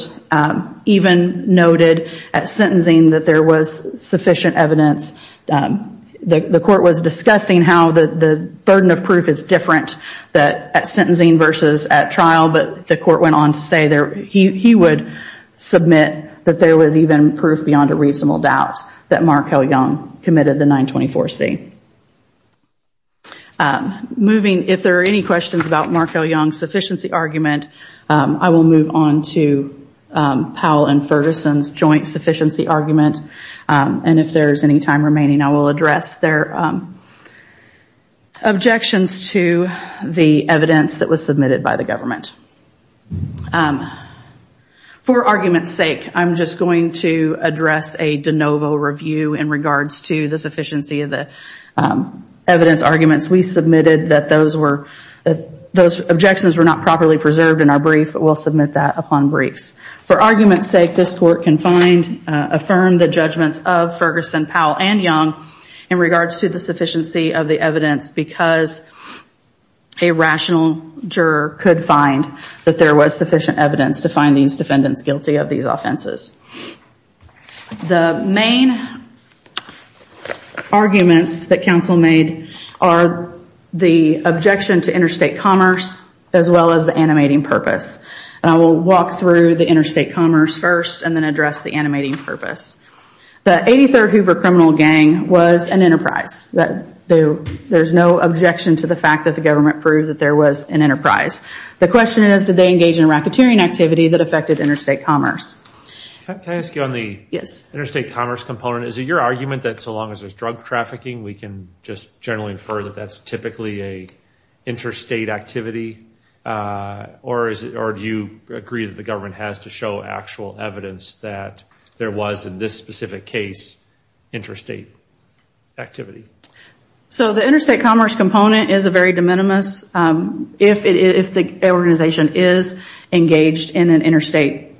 even noted at sentencing that there was sufficient evidence. The court was discussing how the burden of proof is different at sentencing versus at trial, but the court went on to say he would submit that there was even proof beyond a reasonable doubt that Markell Young committed the 924C. If there are any questions about Markell Young's sufficiency argument, I will move on to Powell and Ferguson's joint sufficiency argument, and if there is any time remaining, I will address their objections to the evidence that was submitted by the government. For argument's sake, I'm just going to address a de novo review in regards to the sufficiency of the evidence arguments. We submitted that those objections were not properly preserved in our brief, but we'll submit that upon briefs. For argument's sake, this court can affirm the judgments of Ferguson, Powell, and Young in regards to the sufficiency of the evidence because a rational juror could find that there was sufficient evidence to find these defendants guilty of these offenses. The main arguments that counsel made are the objection to interstate commerce, as well as the animating purpose, and I will walk through the interstate commerce first and then address the animating purpose. The 83rd Hoover criminal gang was an enterprise. There's no objection to the fact that the government proved that there was an enterprise. The question is, did they engage in racketeering activity that affected interstate commerce? Can I ask you on the interstate commerce component, is it your argument that so long as there's drug trafficking, we can just generally infer that that's typically an interstate activity, or do you agree that the government has to show actual evidence that there was, in this specific case, interstate activity? The interstate commerce component is a very de minimis. If the organization is engaged in an interstate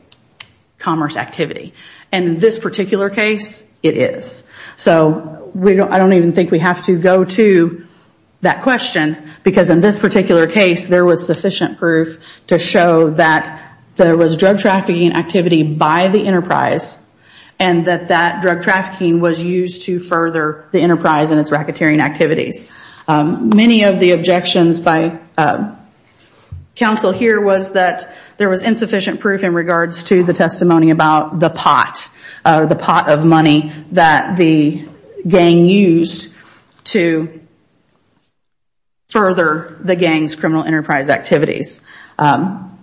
commerce activity, and in this particular case, it is. I don't even think we have to go to that question because in this particular case, there was sufficient proof to show that there was drug trafficking activity by the enterprise, and that that drug trafficking was used to further the enterprise and its racketeering activities. Many of the objections by counsel here was that there was insufficient proof in regards to the testimony about the pot, the pot of money that the gang used to further the gang's criminal enterprise activities. In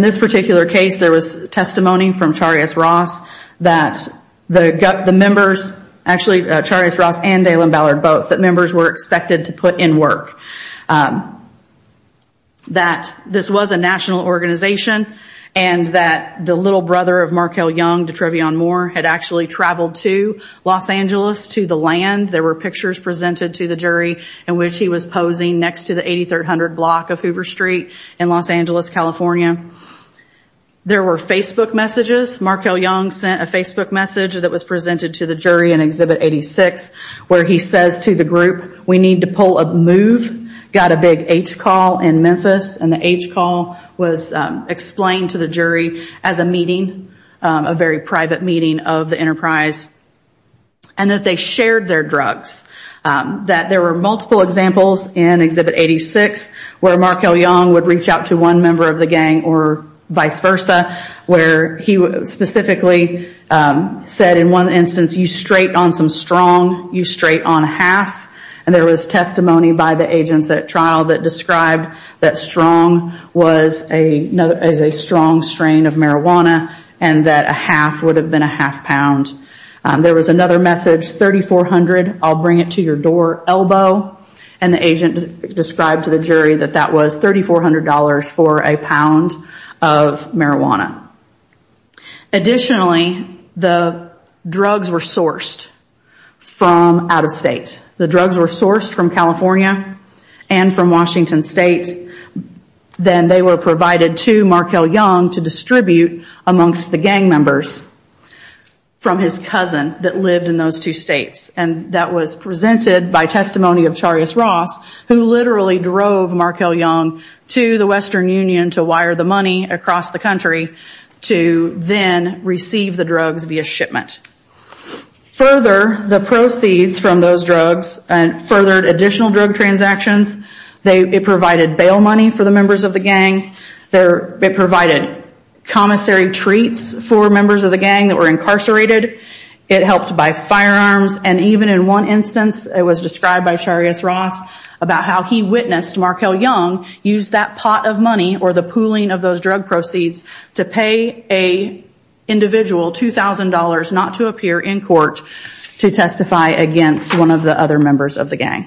this particular case, there was testimony from Charias Ross that the members, actually Charias Ross and Dalen Ballard both, that members were expected to put in work. That this was a national organization, and that the little brother of Markel Young, Detrevion Moore, had actually traveled to Los Angeles to the land. There were pictures presented to the jury in which he was posing next to the 8300 block of Hoover Street in Los Angeles, California. There were Facebook messages. Markel Young sent a Facebook message that was presented to the jury in Exhibit 86, where he says to the group, we need to pull a move, got a big H call in Memphis, and the H call was explained to the jury as a meeting, a very private meeting of the enterprise, and that they shared their drugs. That there were multiple examples in Exhibit 86, where Markel Young would reach out to one member of the gang or vice versa, where he specifically said in one instance, you straight on some strong, you straight on half, and there was testimony by the agents at trial that described that strong was a strong strain of marijuana, and that a half would have been a half pound. There was another message, 3,400, I'll bring it to your door, elbow, and the agent described to the jury that that was $3,400 for a pound of marijuana. Additionally, the drugs were sourced from out of state. The drugs were sourced from California and from Washington State, then they were provided to Markel Young to distribute amongst the gang members from his cousin, that lived in those two states, and that was presented by testimony of Charis Ross, who literally drove Markel Young to the Western Union to wire the money across the country, to then receive the drugs via shipment. Further, the proceeds from those drugs furthered additional drug transactions. It provided bail money for the members of the gang. It provided commissary treats for members of the gang that were incarcerated. It helped buy firearms, and even in one instance, it was described by Charis Ross about how he witnessed Markel Young use that pot of money, or the pooling of those drug proceeds, to pay an individual $2,000 not to appear in court to testify against one of the other members of the gang.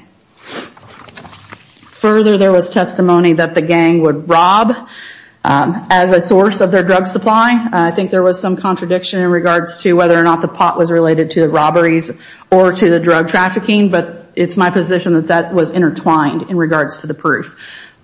Further, there was testimony that the gang would rob as a source of their drug supply. I think there was some contradiction in regards to whether or not the pot was related to the robberies or to the drug trafficking, but it's my position that that was intertwined in regards to the proof.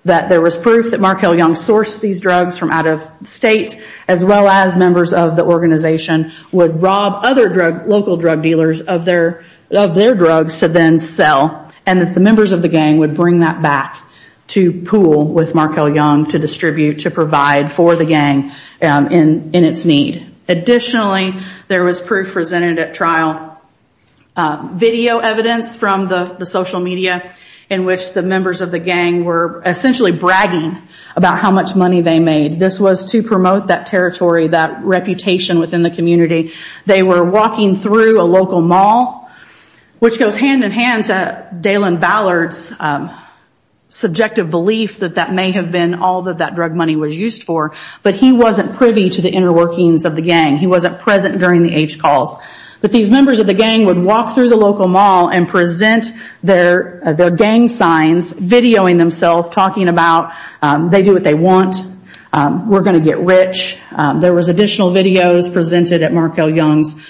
That there was proof that Markel Young sourced these drugs from out of state, as well as members of the organization would rob other local drug dealers of their drugs to then sell, and that the members of the gang would bring that back to pool with Markel Young to distribute, to provide for the gang in its need. Additionally, there was proof presented at trial, video evidence from the social media, in which the members of the gang were essentially bragging about how much money they made. This was to promote that territory, that reputation within the community. They were walking through a local mall, which goes hand-in-hand to Dalen Ballard's subjective belief that that may have been all that that drug money was used for, but he wasn't privy to the inner workings of the gang. He wasn't present during the H calls. But these members of the gang would walk through the local mall and present their gang signs, videoing themselves, talking about they do what they want, we're going to get rich. There was additional videos presented at Markel Young's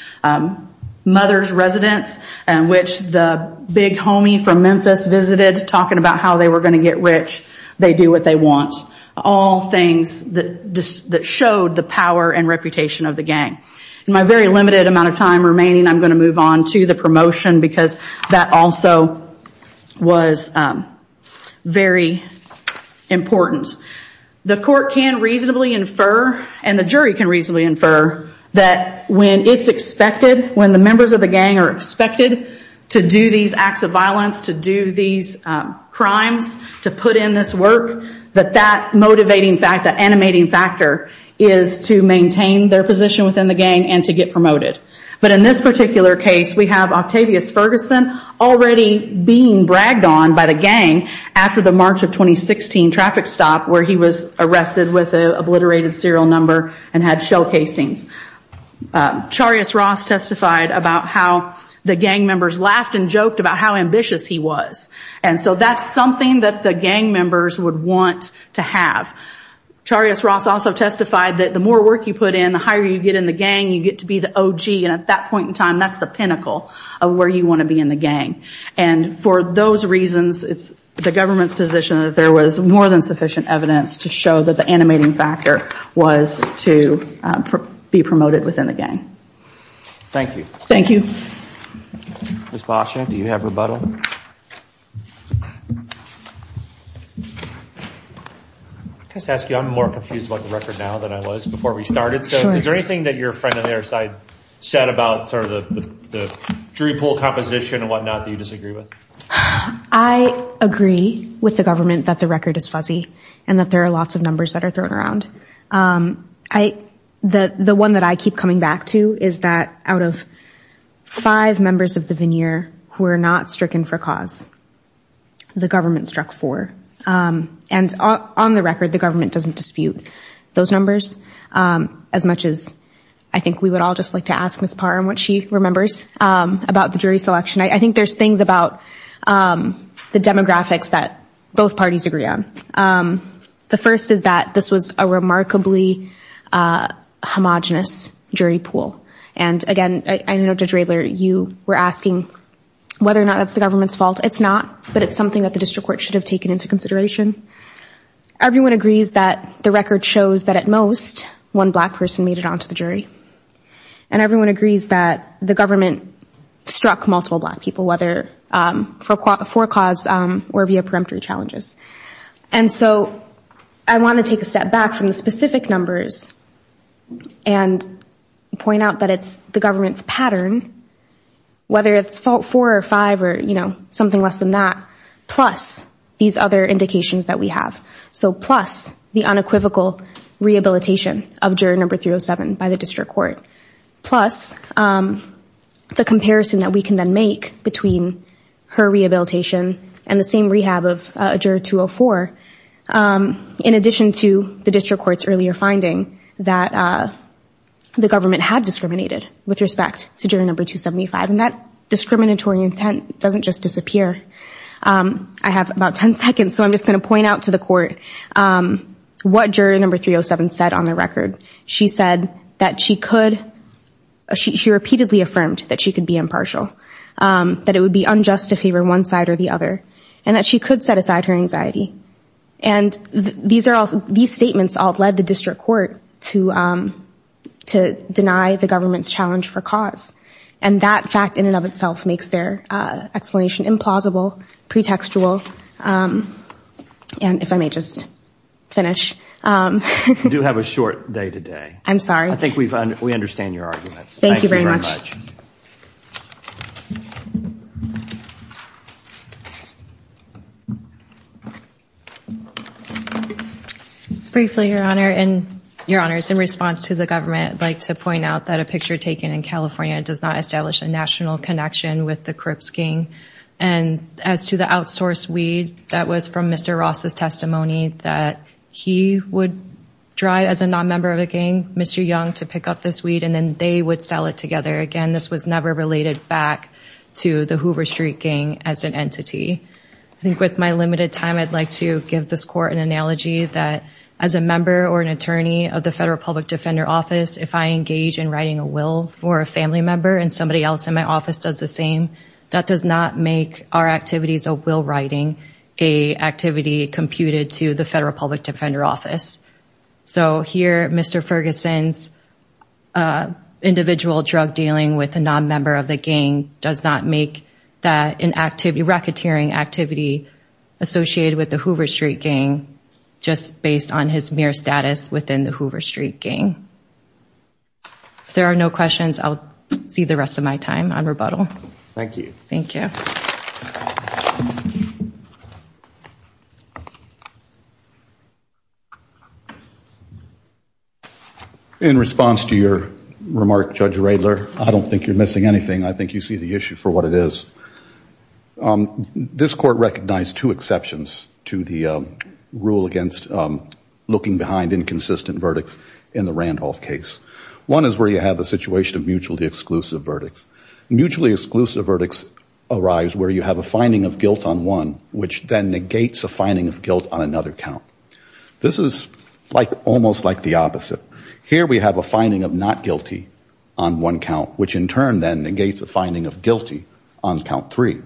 mother's residence, in which the big homie from Memphis visited, talking about how they were going to get rich, they do what they want. All things that showed the power and reputation of the gang. In my very limited amount of time remaining, I'm going to move on to the promotion, because that also was very important. The court can reasonably infer, and the jury can reasonably infer, that when it's expected, when the members of the gang are expected to do these acts of violence, to do these crimes, to put in this work, that that motivating factor, that animating factor is to maintain their position within the gang and to get promoted. But in this particular case, we have Octavius Ferguson already being bragged on by the gang after the March of 2016 traffic stop where he was arrested with an obliterated serial number and had shell casings. Charius Ross testified about how the gang members laughed and joked about how ambitious he was. And so that's something that the gang members would want to have. Charius Ross also testified that the more work you put in, the higher you get in the gang, you get to be the OG. And at that point in time, that's the pinnacle of where you want to be in the gang. And for those reasons, it's the government's position that there was more than sufficient evidence to show that the animating factor was to be promoted within the gang. Thank you. I'm more confused about the record now than I was before we started. Is there anything that your friend on the other side said about sort of the Drupal composition and whatnot that you disagree with? I agree with the government that the record is fuzzy and that there are lots of numbers that are thrown around. The one that I keep coming back to is that out of five members of the veneer who are not stricken for cause, the government struck four. And on the record, the government doesn't dispute those numbers. As much as I think we would all just like to ask Ms. Parr and what she remembers about the jury selection. I think there's things about the demographics that both parties agree on. The first is that this was a remarkably homogenous jury pool. And again, I know Judge Radler, you were asking whether or not that's the government's fault. It's not, but it's something that the district court should have taken into consideration. Everyone agrees that the record shows that at most one black person made it onto the jury. And everyone agrees that the government struck multiple black people, whether for cause or via preemptory challenges. And so I want to take a step back from the specific numbers and point out that it's the government's pattern, whether it's fault four or five or something less than that, plus these other indications that we have. So plus the unequivocal rehabilitation of juror number 307 by the district court, plus the comparison that we can then make between her rehabilitation and the same rehab of juror 204, in addition to the district court's earlier finding that the government had discriminated with respect to juror number 275. And that discriminatory intent doesn't just disappear. I have about 10 seconds, so I'm just going to point out to the court what juror number 307 said on the record. She said that she could, she repeatedly affirmed that she could be impartial, that it would be unjust to favor one side or the other, and that she could set aside her anxiety. And these statements all led the district court to deny the government's challenge for cause. And that fact in and of itself makes their explanation implausible, pretextual. And if I may just finish. You do have a short day today. I'm sorry. I think we understand your arguments. Thank you very much. Briefly, Your Honor, in response to the government, I'd like to point out that a picture taken in California does not establish a national connection with the Crips gang. And as to the outsourced weed, that was from Mr. Ross's testimony, that he would drive, as a non-member of the gang, Mr. Young to pick up this weed, and then they would sell it together. Again, this was never related back to the Hoover Street gang as an entity. I think with my limited time, I'd like to give this court an analogy that as a member or an attorney of the Federal Public Defender Office, if I engage in writing a will for a family member and somebody else in my office does the same, that does not make me a member of the gang. It does not make our activities a will writing, an activity computed to the Federal Public Defender Office. So here, Mr. Ferguson's individual drug dealing with a non-member of the gang does not make that an activity, racketeering activity associated with the Hoover Street gang, just based on his mere status within the Hoover Street gang. If there are no questions, I'll see the rest of my time on rebuttal. Thank you. In response to your remark, Judge Radler, I don't think you're missing anything. I think you see the issue for what it is. This court recognized two exceptions to the rule against looking behind inconsistent verdicts in the Randolph case. One is where you have the situation of mutually exclusive verdicts. Mutually exclusive verdicts arise where you have a finding of guilt on one, which then negates a finding of guilt on another count. This is almost like the opposite. Here we have a finding of not guilty on one count, which in turn then negates a finding of guilty on count three.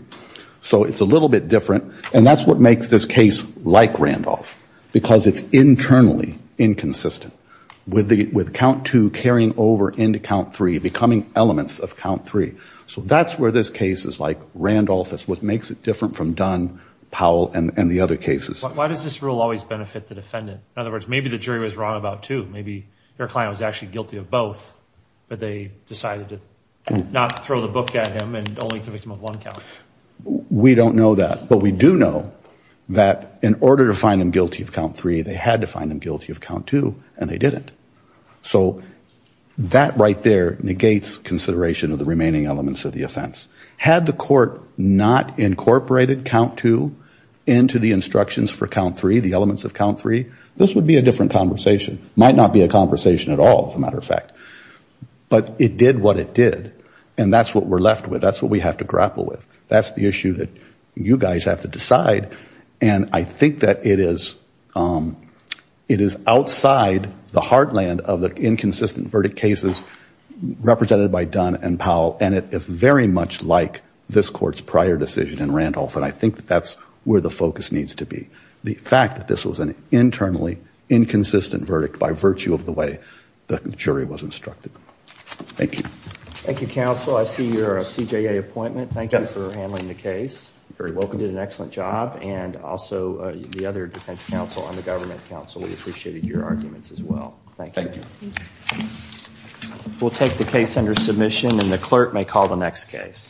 So it's a little bit different, and that's what makes this case like Randolph, because it's internally inconsistent. With count two carrying over into count three, becoming elements of count three. So that's where this case is like Randolph. That's what makes it different from Don Powell and the other cases. Why does this rule always benefit the defendant? In other words, maybe the jury was wrong about two. Maybe their client was actually guilty of both, but they decided to not throw the book at him and only convict him of one count. We don't know that, but we do know that in order to find them guilty of count three, they had to find them guilty of count two, and they didn't. So that right there negates consideration of the remaining elements of the offense. Had the court not incorporated count two into the instructions for count three, the elements of count three, this would be a different conversation. Might not be a conversation at all, as a matter of fact. But it did what it did, and that's what we're left with. That's what we have to grapple with. That's the issue that you guys have to decide, and I think that it is outside the heartland of the inconsistent verdict cases represented by Don and Powell, and it is very much like this court's prior decision in Randolph, and I think that's where the focus needs to be. The fact that this was an internally inconsistent verdict by virtue of the way the jury was instructed. Thank you, counsel. I see you're a CJA appointment. Thank you for handling the case. You did an excellent job, and also the other defense counsel and the government counsel, we appreciated your arguments as well. We'll take the case under submission, and the clerk may call the next case.